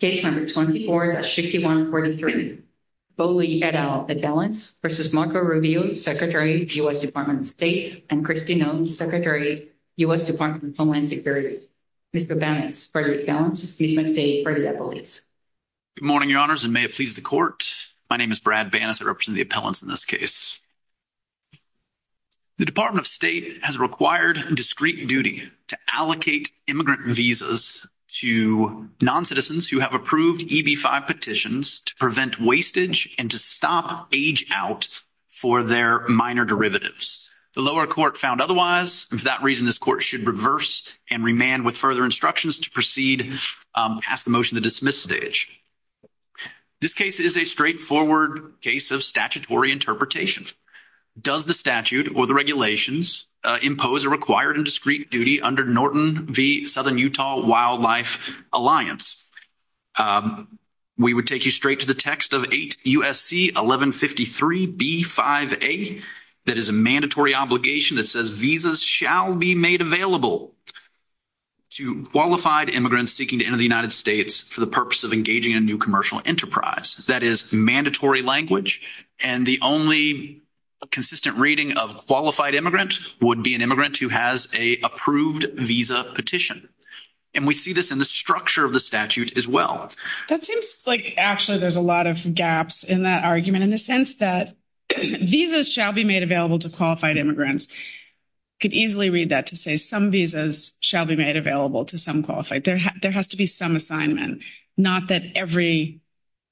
Case No. 24-5143, Bolli et al. Appellants v. Marco Rubio, Secretary, U.S. Department of State, and Kristi Noem, Secretary, U.S. Department of Homeland Security. Mr. Banas, President of the Appellants, Ms. McDade, President of the Bollis. Good morning, Your Honors, and may it please the Court. My name is Brad Banas. I represent the Appellants in this case. The Department of State has required a discreet duty to allocate immigrant visas to noncitizens who have approved EB-5 petitions to prevent wastage and to stop age out for their minor derivatives. The lower court found otherwise, and for that reason, this Court should reverse and remand with further instructions to proceed past the motion to dismiss stage. This case is a straightforward case of statutory interpretation. Does the statute or the regulations impose a required and discreet duty under Norton v. Southern Utah Wildlife Alliance? We would take you straight to the text of 8 U.S.C. 1153 B-5A. That is a mandatory obligation that says visas shall be made available to qualified immigrants seeking to enter the United States for the purpose of engaging in a new commercial enterprise. That is mandatory language, and the only consistent reading of qualified immigrant would be an immigrant who has an approved visa petition. And we see this in the structure of the statute as well. That seems like actually there's a lot of gaps in that argument in the sense that visas shall be made available to qualified immigrants. Could easily read that to say some visas shall be made available to some qualified. There has to be some assignment, not that every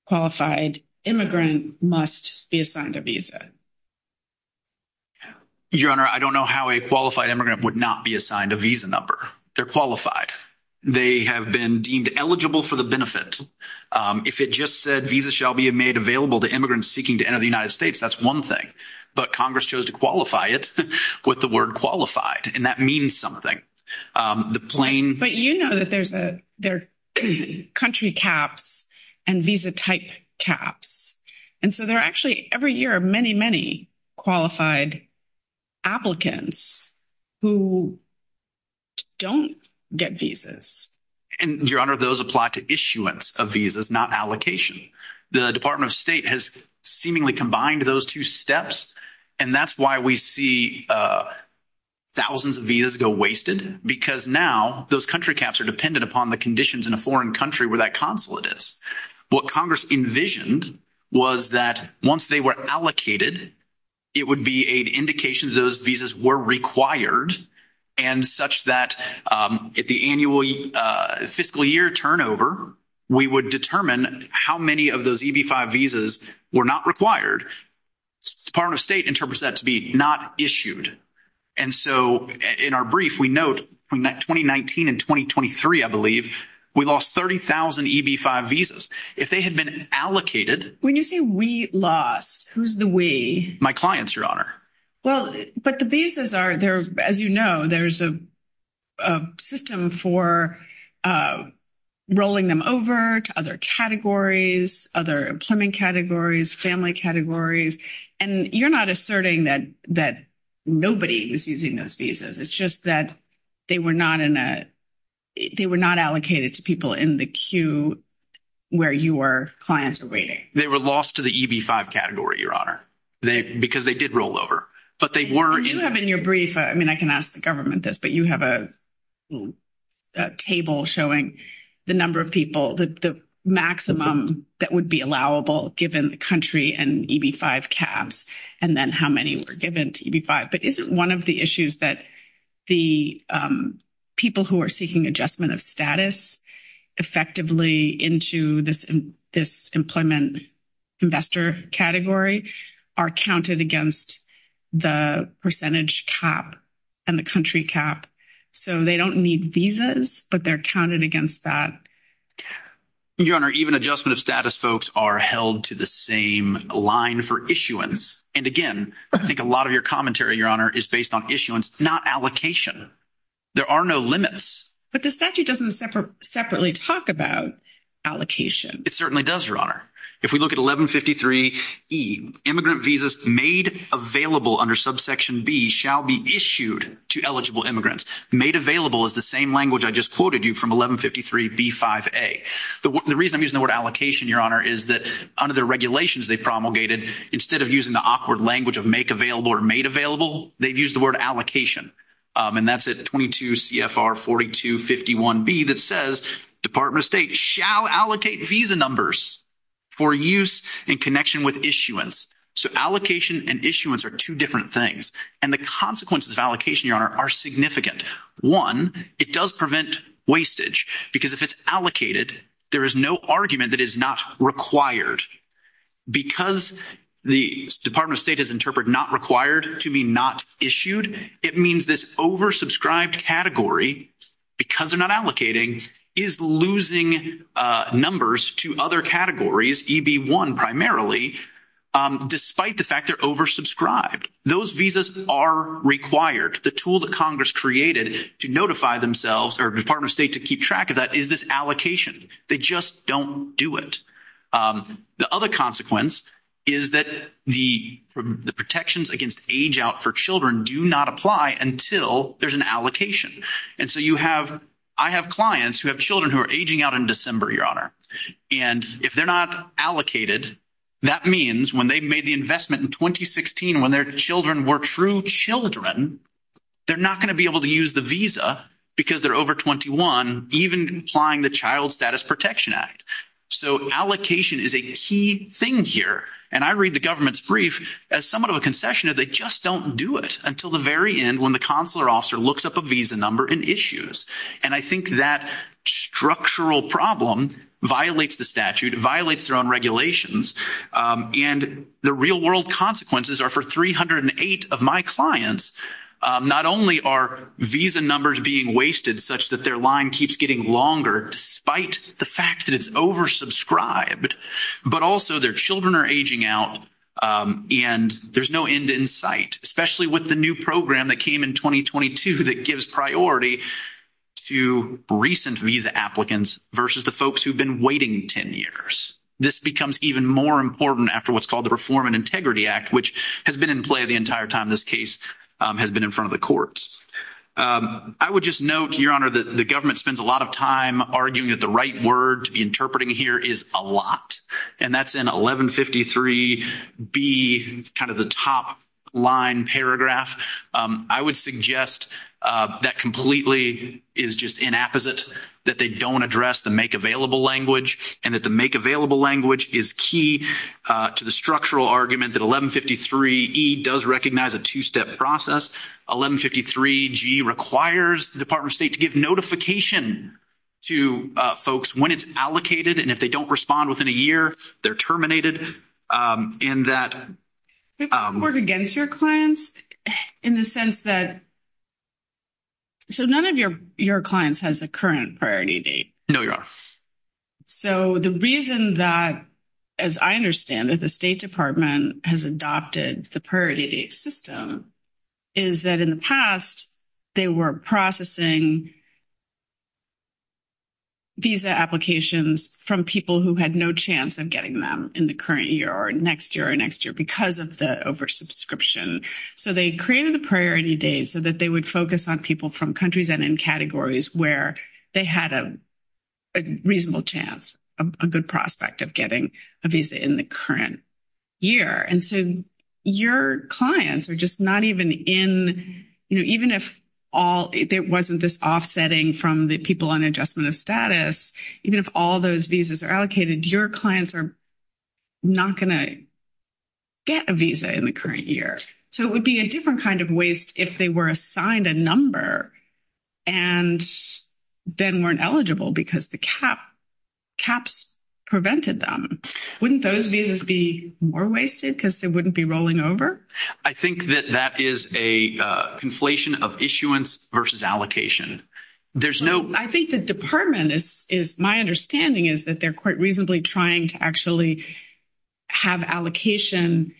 qualified immigrant must be assigned a visa. Your Honor, I don't know how a qualified immigrant would not be assigned a visa number. They're qualified. They have been deemed eligible for the benefit. If it just said visas shall be made available to immigrants seeking to enter the United States, that's one thing. But Congress chose to qualify it with the word qualified, and that means something. But you know that there are country caps and visa type caps, and so there are actually every year many, many qualified applicants who don't get visas. Your Honor, those apply to issuance of visas, not allocation. The Department of State has seemingly combined those two steps, and that's why we see thousands of visas go wasted, because now those country caps are dependent upon the conditions in a foreign country where that consulate is. What Congress envisioned was that once they were allocated, it would be an indication that those visas were required, and such that at the annual fiscal year turnover, we would determine how many of those EB-5 visas were not required. The Department of State interprets that to be not issued, and so in our brief, we note 2019 and 2023, I believe, we lost 30,000 EB-5 visas. If they had been allocated… When you say we lost, who's the we? My clients, Your Honor. Well, but the visas are, as you know, there's a system for rolling them over to other categories, other employment categories, family categories, and you're not asserting that nobody is using those visas. It's just that they were not allocated to people in the queue where your clients are waiting. They were lost to the EB-5 category, Your Honor, because they did roll over, but they weren't… You have in your brief, I mean, I can ask the government this, but you have a table showing the number of people, the maximum that would be allowable given the country and EB-5 caps, and then how many were given to EB-5. But isn't one of the issues that the people who are seeking adjustment of status effectively into this employment investor category are counted against the percentage cap and the country cap? So they don't need visas, but they're counted against that. Your Honor, even adjustment of status folks are held to the same line for issuance. And again, I think a lot of your commentary, Your Honor, is based on issuance, not allocation. There are no limits. But the statute doesn't separately talk about allocation. It certainly does, Your Honor. If we look at 1153E, immigrant visas made available under subsection B shall be issued to eligible immigrants. Made available is the same language I just quoted you from 1153B5A. The reason I'm using the word allocation, Your Honor, is that under the regulations they promulgated, instead of using the awkward language of make available or made available, they've used the word allocation. And that's at 22CFR4251B that says Department of State shall allocate visa numbers for use in connection with issuance. So allocation and issuance are two different things. And the consequences of allocation, Your Honor, are significant. One, it does prevent wastage because if it's allocated, there is no argument that it is not required. Because the Department of State has interpreted not required to be not issued, it means this oversubscribed category, because they're not allocating, is losing numbers to other categories, EB1 primarily, despite the fact they're oversubscribed. Those visas are required. The tool that Congress created to notify themselves or Department of State to keep track of that is this allocation. They just don't do it. The other consequence is that the protections against age out for children do not apply until there's an allocation. And so you have – I have clients who have children who are aging out in December, Your Honor. And if they're not allocated, that means when they made the investment in 2016 when their children were true children, they're not going to be able to use the visa because they're over 21, even applying the Child Status Protection Act. So allocation is a key thing here. And I read the government's brief as somewhat of a concession that they just don't do it until the very end when the consular officer looks up a visa number and issues. And I think that structural problem violates the statute, violates their own regulations, and the real-world consequences are for 308 of my clients. Not only are visa numbers being wasted such that their line keeps getting longer despite the fact that it's oversubscribed, but also their children are aging out, and there's no end in sight, especially with the new program that came in 2022 that gives priority to recent visa applicants versus the folks who've been waiting 10 years. This becomes even more important after what's called the Reform and Integrity Act, which has been in play the entire time this case has been in front of the courts. I would just note, Your Honor, that the government spends a lot of time arguing that the right word to be interpreting here is a lot, and that's in 1153B. It's kind of the top-line paragraph. I would suggest that completely is just inapposite, that they don't address the make-available language and that the make-available language is key to the structural argument that 1153E does recognize a two-step process. 1153G requires the Department of State to give notification to folks when it's allocated, and if they don't respond within a year, they're terminated in that. People don't work against your clients in the sense that – so none of your clients has a current priority date. No, Your Honor. So the reason that, as I understand it, the State Department has adopted the priority date system is that in the past, they were processing visa applications from people who had no chance of getting them in the current year or next year or next year because of the over-subscription. So they created the priority date so that they would focus on people from countries and in categories where they had a reasonable chance, a good prospect of getting a visa in the current year. And so your clients are just not even in – even if it wasn't this offsetting from the people on adjustment of status, even if all those visas are allocated, your clients are not going to get a visa in the current year. So it would be a different kind of waste if they were assigned a number and then weren't eligible because the caps prevented them. Wouldn't those visas be more wasted because they wouldn't be rolling over? I think that that is a conflation of issuance versus allocation. I think the department is – my understanding is that they're quite reasonably trying to actually have allocation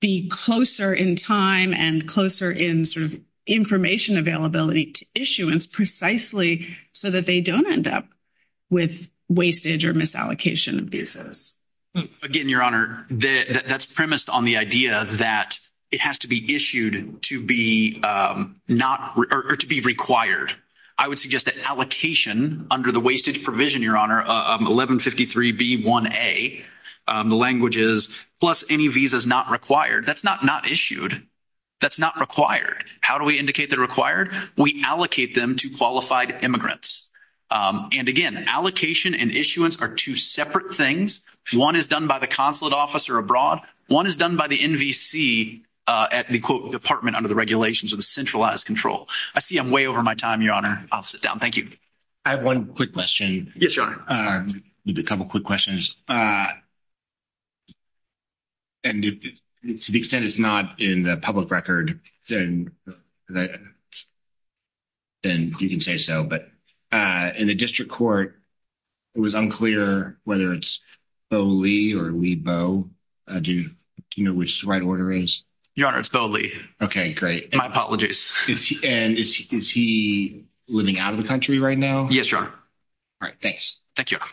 be closer in time and closer in sort of information availability to issuance precisely so that they don't end up with wastage or misallocation of visas. Again, Your Honor, that's premised on the idea that it has to be issued to be not – or to be required. I would suggest that allocation under the wastage provision, Your Honor, 1153B1A, the language is plus any visas not required. That's not not issued. That's not required. How do we indicate they're required? We allocate them to qualified immigrants. And again, allocation and issuance are two separate things. One is done by the consulate officer abroad. One is done by the NVC at the, quote, department under the regulations or the centralized control. I see I'm way over my time, Your Honor. I'll sit down. Thank you. I have one quick question. Yes, Your Honor. A couple quick questions. And to the extent it's not in the public record, then you can say so. But in the district court, it was unclear whether it's Bo Lee or Lee Bo. Do you know which the right order is? Your Honor, it's Bo Lee. Okay, great. My apologies. And is he living out of the country right now? Yes, Your Honor. All right. Thanks. Thank you, Your Honor.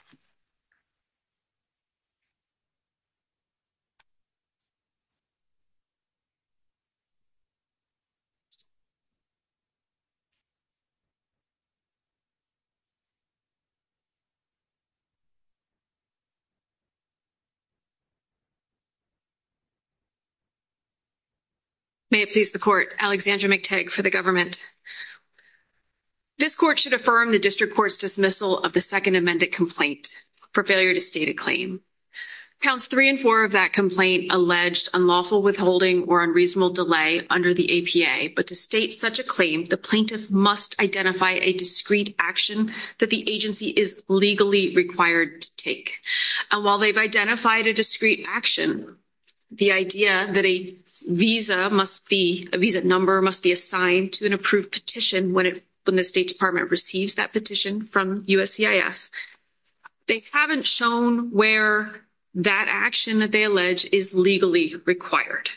May it please the court. Alexandra McTague for the government. This court should affirm the district court's dismissal of the second amended complaint for failure to state a claim. Counts three and four of that complaint alleged unlawful withholding or unreasonable delay under the APA. But to state such a claim, the plaintiff must identify a discreet action that the agency is legally required to take. And while they've identified a discreet action, the idea that a visa number must be assigned to an approved petition when the State Department receives that petition from USCIS, they haven't shown where that action that they allege is legally required.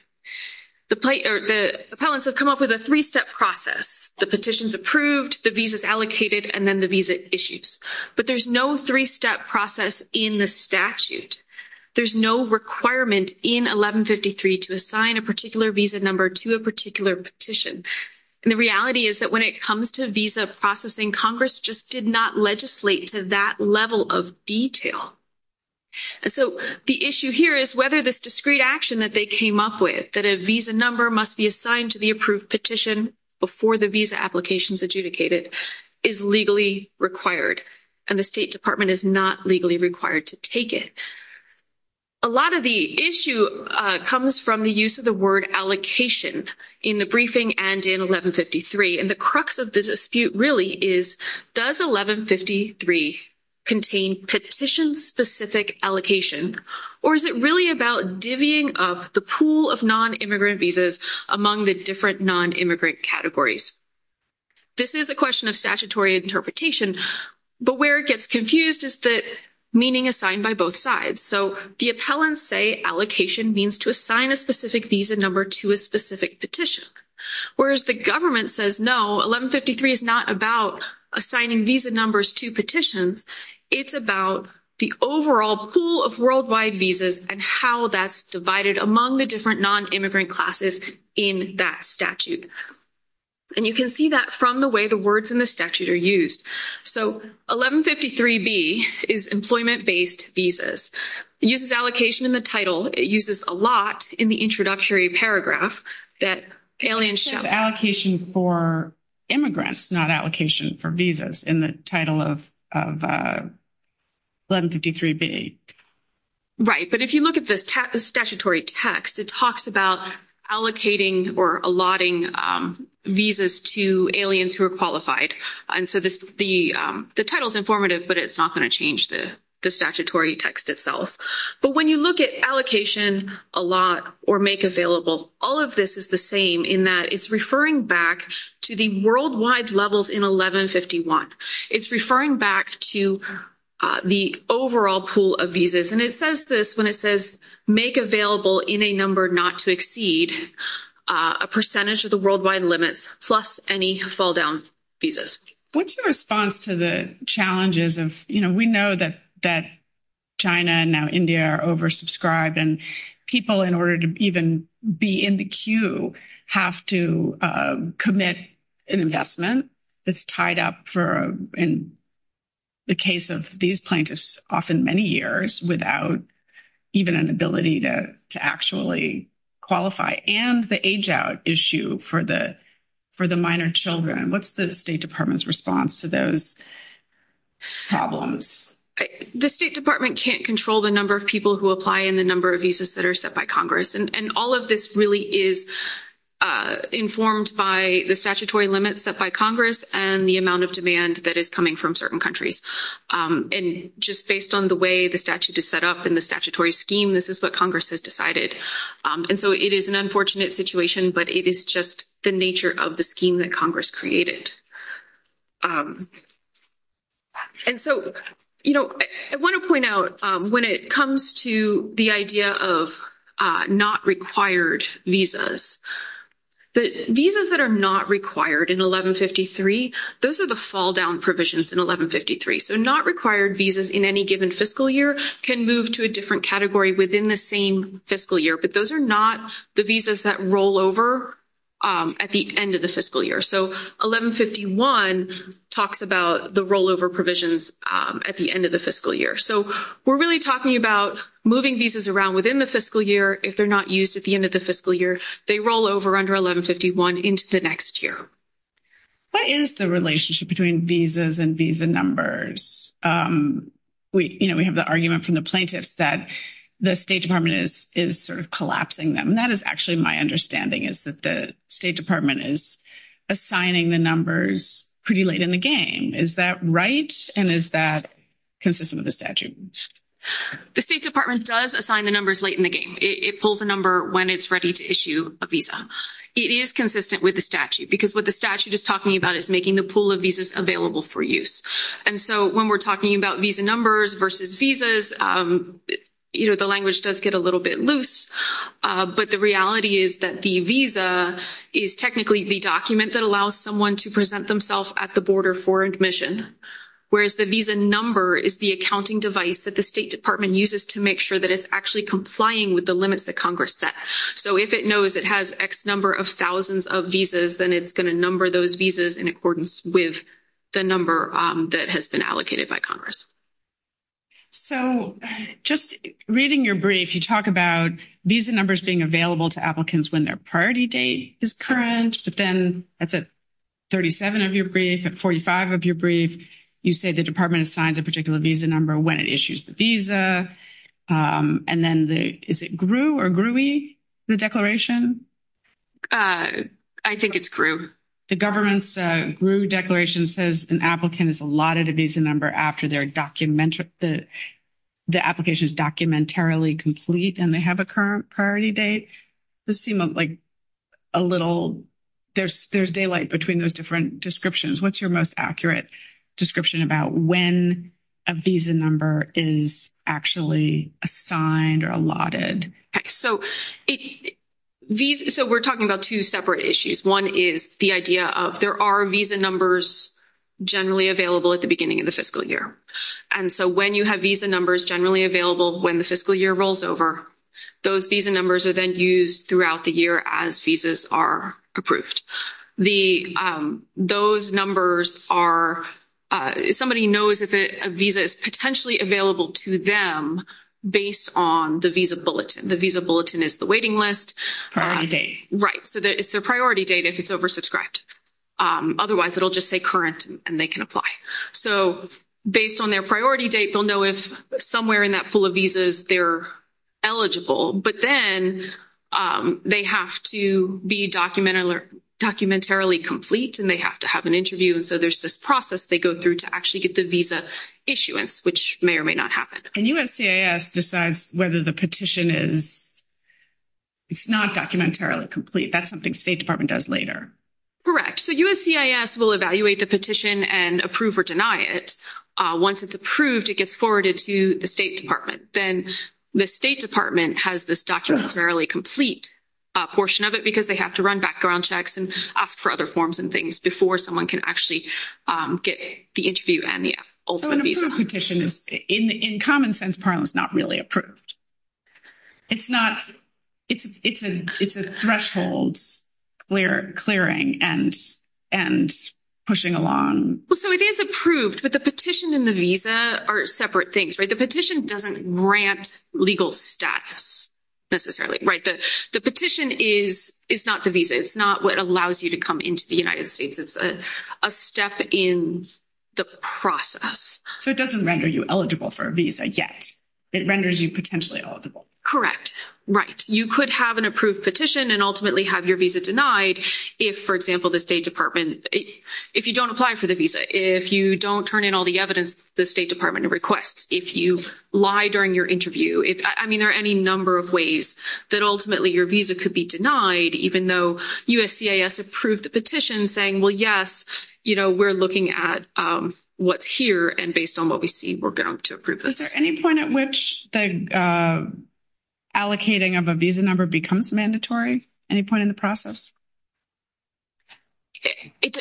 The appellants have come up with a three-step process. The petition's approved, the visa's allocated, and then the visa issues. But there's no three-step process in the statute. There's no requirement in 1153 to assign a particular visa number to a particular petition. And the reality is that when it comes to visa processing, Congress just did not legislate to that level of detail. And so the issue here is whether this discreet action that they came up with, that a visa number must be assigned to the approved petition before the visa application is adjudicated, is legally required. And the State Department is not legally required to take it. A lot of the issue comes from the use of the word allocation in the briefing and in 1153. And the crux of the dispute really is, does 1153 contain petition-specific allocation, or is it really about divvying up the pool of non-immigrant visas among the different non-immigrant categories? This is a question of statutory interpretation. But where it gets confused is the meaning assigned by both sides. So the appellants say allocation means to assign a specific visa number to a specific petition. Whereas the government says, no, 1153 is not about assigning visa numbers to petitions. It's about the overall pool of worldwide visas and how that's divided among the different non-immigrant classes in that statute. And you can see that from the way the words in the statute are used. So 1153B is employment-based visas. It uses allocation in the title. It uses allot in the introductory paragraph that aliens shall – It says allocation for immigrants, not allocation for visas in the title of 1153B. Right. But if you look at the statutory text, it talks about allocating or allotting visas to aliens who are qualified. And so the title is informative, but it's not going to change the statutory text itself. But when you look at allocation, allot, or make available, all of this is the same in that it's referring back to the worldwide levels in 1151. It's referring back to the overall pool of visas. And it says this when it says make available in a number not to exceed a percentage of the worldwide limits plus any fall-down visas. What's your response to the challenges of – you know, we know that China and now India are oversubscribed, and people in order to even be in the queue have to commit an investment that's tied up for – in the case of these plaintiffs, often many years without even an ability to actually qualify, and the age-out issue for the minor children. What's the State Department's response to those problems? The State Department can't control the number of people who apply and the number of visas that are set by Congress. And all of this really is informed by the statutory limits set by Congress and the amount of demand that is coming from certain countries. And just based on the way the statute is set up and the statutory scheme, this is what Congress has decided. And so it is an unfortunate situation, but it is just the nature of the scheme that Congress created. And so, you know, I want to point out when it comes to the idea of not required visas, the visas that are not required in 1153, those are the fall-down provisions in 1153. So not required visas in any given fiscal year can move to a different category within the same fiscal year, but those are not the visas that roll over at the end of the fiscal year. So 1151 talks about the rollover provisions at the end of the fiscal year. So we're really talking about moving visas around within the fiscal year. If they're not used at the end of the fiscal year, they roll over under 1151 into the next year. What is the relationship between visas and visa numbers? You know, we have the argument from the plaintiffs that the State Department is sort of collapsing them. That is actually my understanding, is that the State Department is assigning the numbers pretty late in the game. Is that right, and is that consistent with the statute? The State Department does assign the numbers late in the game. It pulls a number when it's ready to issue a visa. It is consistent with the statute because what the statute is talking about is making the pool of visas available for use. And so when we're talking about visa numbers versus visas, you know, the language does get a little bit loose, but the reality is that the visa is technically the document that allows someone to present themselves at the border for admission, whereas the visa number is the accounting device that the State Department uses to make sure that it's actually complying with the limits that Congress set. So if it knows it has X number of thousands of visas, then it's going to number those visas in accordance with the number that has been allocated by Congress. So just reading your brief, you talk about visa numbers being available to applicants when their priority date is current, but then that's at 37 of your brief, at 45 of your brief, you say the Department assigns a particular visa number when it issues the visa. And then is it GRU or GRUI, the declaration? I think it's GRU. The government's GRU declaration says an applicant is allotted a visa number after the application is documentarily complete and they have a current priority date. This seems like a little, there's daylight between those different descriptions. What's your most accurate description about when a visa number is actually assigned or allotted? So we're talking about two separate issues. One is the idea of there are visa numbers generally available at the beginning of the fiscal year. And so when you have visa numbers generally available when the fiscal year rolls over, those visa numbers are then used throughout the year as visas are approved. Those numbers are, somebody knows if a visa is potentially available to them based on the visa bulletin. The visa bulletin is the waiting list. Priority date. Right. So it's their priority date if it's oversubscribed. Otherwise, it'll just say current and they can apply. So based on their priority date, they'll know if somewhere in that pool of visas they're eligible. But then they have to be documentarily complete and they have to have an interview. And so there's this process they go through to actually get the visa issuance, which may or may not happen. And USCIS decides whether the petition is, it's not documentarily complete. That's something State Department does later. So USCIS will evaluate the petition and approve or deny it. Once it's approved, it gets forwarded to the State Department. Then the State Department has this documentarily complete portion of it because they have to run background checks and ask for other forms and things before someone can actually get the interview and the ultimate visa. So an approved petition is, in common sense, Parliament's not really approved. It's not, it's a threshold clearing and pushing along. Well, so it is approved, but the petition and the visa are separate things, right? The petition doesn't grant legal status necessarily, right? The petition is not the visa. It's not what allows you to come into the United States. It's a step in the process. So it doesn't render you eligible for a visa yet. It renders you potentially eligible. Correct. Right. You could have an approved petition and ultimately have your visa denied if, for example, the State Department, if you don't apply for the visa, if you don't turn in all the evidence the State Department requests, if you lie during your interview. I mean, there are any number of ways that ultimately your visa could be denied, even though USCIS approved the petition saying, well, yes, we're looking at what's here, and based on what we see, we're going to approve this. Is there any point at which the allocating of a visa number becomes mandatory? Any point in the process? It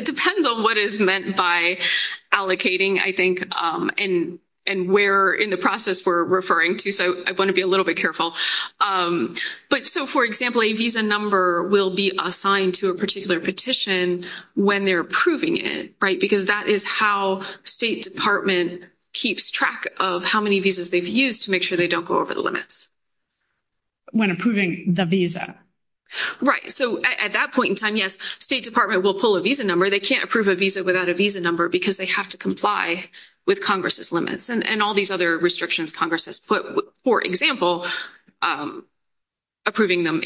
depends on what is meant by allocating, I think, and where in the process we're referring to. So I want to be a little bit careful. But so, for example, a visa number will be assigned to a particular petition when they're approving it, right? Because that is how State Department keeps track of how many visas they've used to make sure they don't go over the limits. When approving the visa? Right. So at that point in time, yes, State Department will pull a visa number. They can't approve a visa without a visa number because they have to comply with Congress's limits and all these other restrictions Congress has put. For example, approving them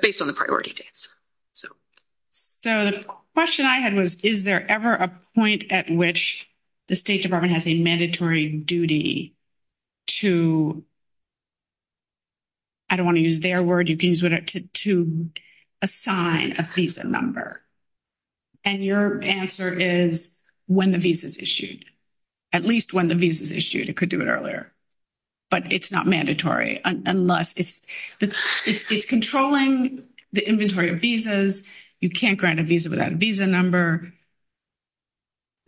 based on the priority dates. So the question I had was, is there ever a point at which the State Department has a mandatory duty to, I don't want to use their word, you can use whatever, to assign a visa number? And your answer is when the visa is issued. At least when the visa is issued. It could do it earlier. But it's not mandatory unless it's controlling the inventory of visas. You can't grant a visa without a visa number.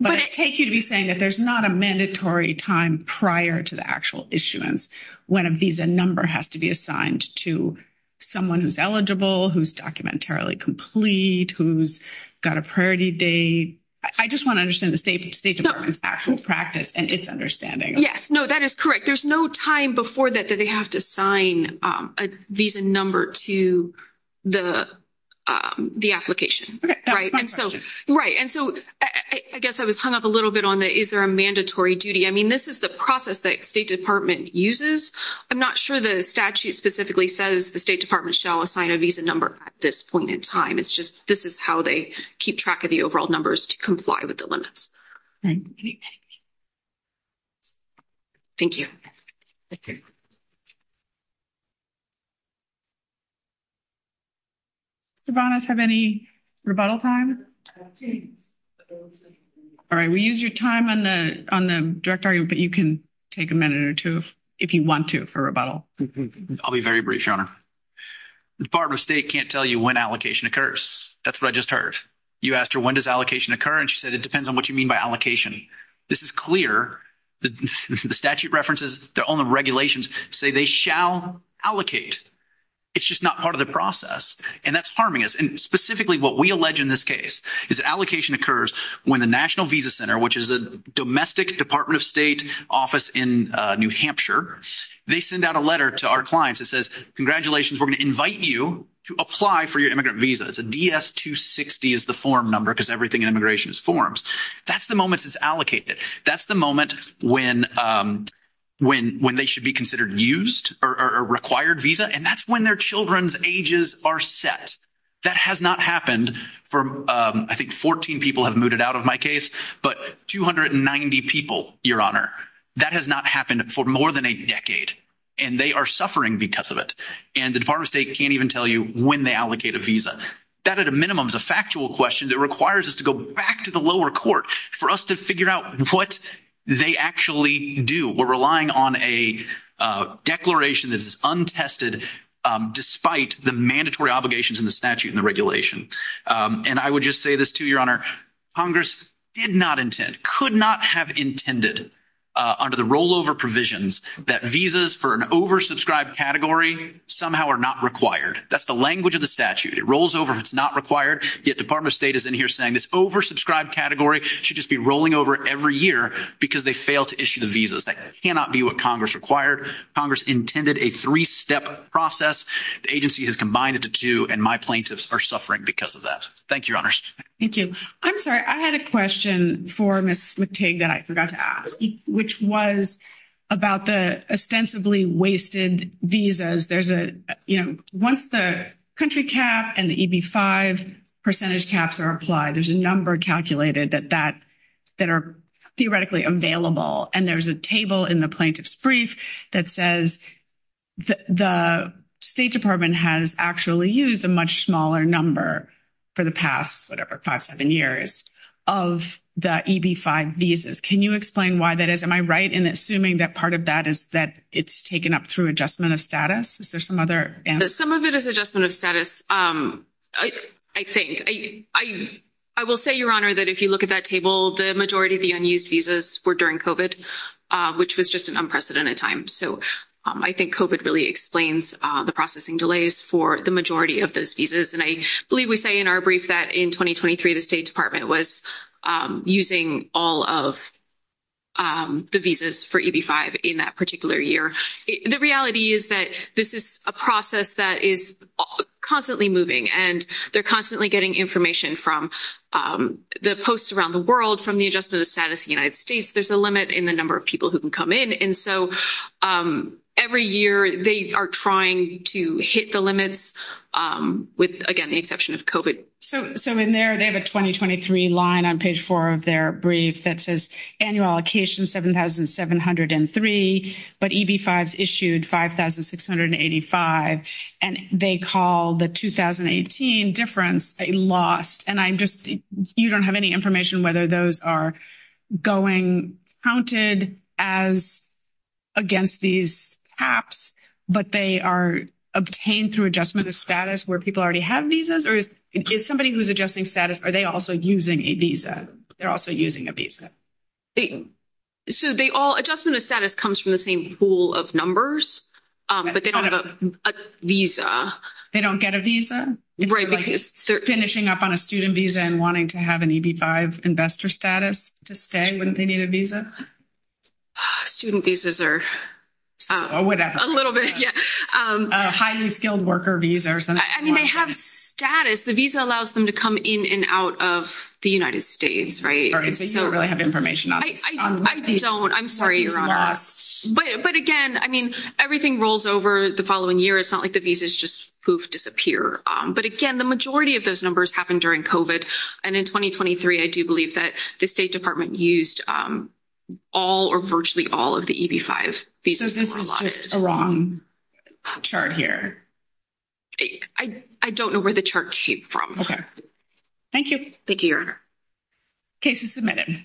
But I take you to be saying that there's not a mandatory time prior to the actual issuance when a visa number has to be assigned to someone who's eligible, who's documentarily complete, who's got a priority date. I just want to understand the State Department's actual practice and its understanding. Yes. No, that is correct. There's no time before that that they have to sign a visa number to the application. Okay. That's my question. Right. And so I guess I was hung up a little bit on the is there a mandatory duty. I mean, this is the process that State Department uses. I'm not sure the statute specifically says the State Department shall assign a visa number at this point in time. It's just this is how they keep track of the overall numbers to comply with the limits. All right. Thank you. Okay. Do we have any rebuttal time? All right. We'll use your time on the direct argument, but you can take a minute or two if you want to for rebuttal. I'll be very brief, Your Honor. The Department of State can't tell you when allocation occurs. That's what I just heard. You asked her, when does allocation occur? And she said, it depends on what you mean by allocation. This is clear. The statute references their own regulations say they shall allocate. It's just not part of the process, and that's harming us. And specifically what we allege in this case is that allocation occurs when the National Visa Center, which is a domestic Department of State office in New Hampshire, they send out a letter to our clients that says, congratulations, we're going to invite you to apply for your immigrant visa. It's a DS-260 is the form number because everything in immigration is forms. That's the moment it's allocated. That's the moment when they should be considered used or required visa, and that's when their children's ages are set. That has not happened for I think 14 people have mooted out of my case, but 290 people, Your Honor, that has not happened for more than a decade, and they are suffering because of it. And the Department of State can't even tell you when they allocate a visa. That at a minimum is a factual question that requires us to go back to the lower court for us to figure out what they actually do. We're relying on a declaration that is untested despite the mandatory obligations in the statute and the regulation. And I would just say this too, Your Honor. Congress did not intend, could not have intended under the rollover provisions that visas for an oversubscribed category somehow are not required. That's the language of the statute. It rolls over if it's not required, yet Department of State is in here saying this oversubscribed category should just be rolling over every year because they fail to issue the visas. That cannot be what Congress required. Congress intended a three-step process. The agency has combined it to two, and my plaintiffs are suffering because of that. Thank you, Your Honors. Thank you. I'm sorry. I had a question for Ms. McTigge that I forgot to ask, which was about the ostensibly wasted visas. There's a, you know, once the country cap and the EB-5 percentage caps are applied, there's a number calculated that are theoretically available. And there's a table in the plaintiff's brief that says the State Department has actually used a much smaller number for the past, whatever, five, seven years of the EB-5 visas. Can you explain why that is? Am I right in assuming that part of that is that it's taken up through adjustment of status? Is there some other answer? Some of it is adjustment of status, I think. I will say, Your Honor, that if you look at that table, the majority of the unused visas were during COVID, which was just an unprecedented time. So I think COVID really explains the processing delays for the majority of those visas. And I believe we say in our brief that in 2023 the State Department was using all of the visas for EB-5 in that particular year. The reality is that this is a process that is constantly moving, and they're constantly getting information from the posts around the world, from the adjustment of status in the United States. There's a limit in the number of people who can come in. And so every year they are trying to hit the limits with, again, the exception of COVID. So in there they have a 2023 line on page 4 of their brief that says annual allocation 7,703, but EB-5s issued 5,685. And they call the 2018 difference a lost. And I'm just – you don't have any information whether those are going counted as against these caps, but they are obtained through adjustment of status where people already have visas? Or is somebody who's adjusting status, are they also using a visa? They're also using a visa. So they all – adjustment of status comes from the same pool of numbers, but they don't have a visa. They don't get a visa? Right, because – If they're finishing up on a student visa and wanting to have an EB-5 investor status to stay, wouldn't they need a visa? Student visas are – Or whatever. A little bit, yeah. A highly skilled worker visa or something like that. I mean, they have status. The visa allows them to come in and out of the United States, right? So you don't really have information on these? I don't. I'm sorry, Your Honor. But, again, I mean, everything rolls over the following year. It's not like the visas just poof, disappear. But, again, the majority of those numbers happen during COVID. And in 2023, I do believe that the State Department used all or virtually all of the EB-5 visas. So this is just a wrong chart here? I don't know where the chart came from. Thank you. Thank you, Your Honor. Case is submitted.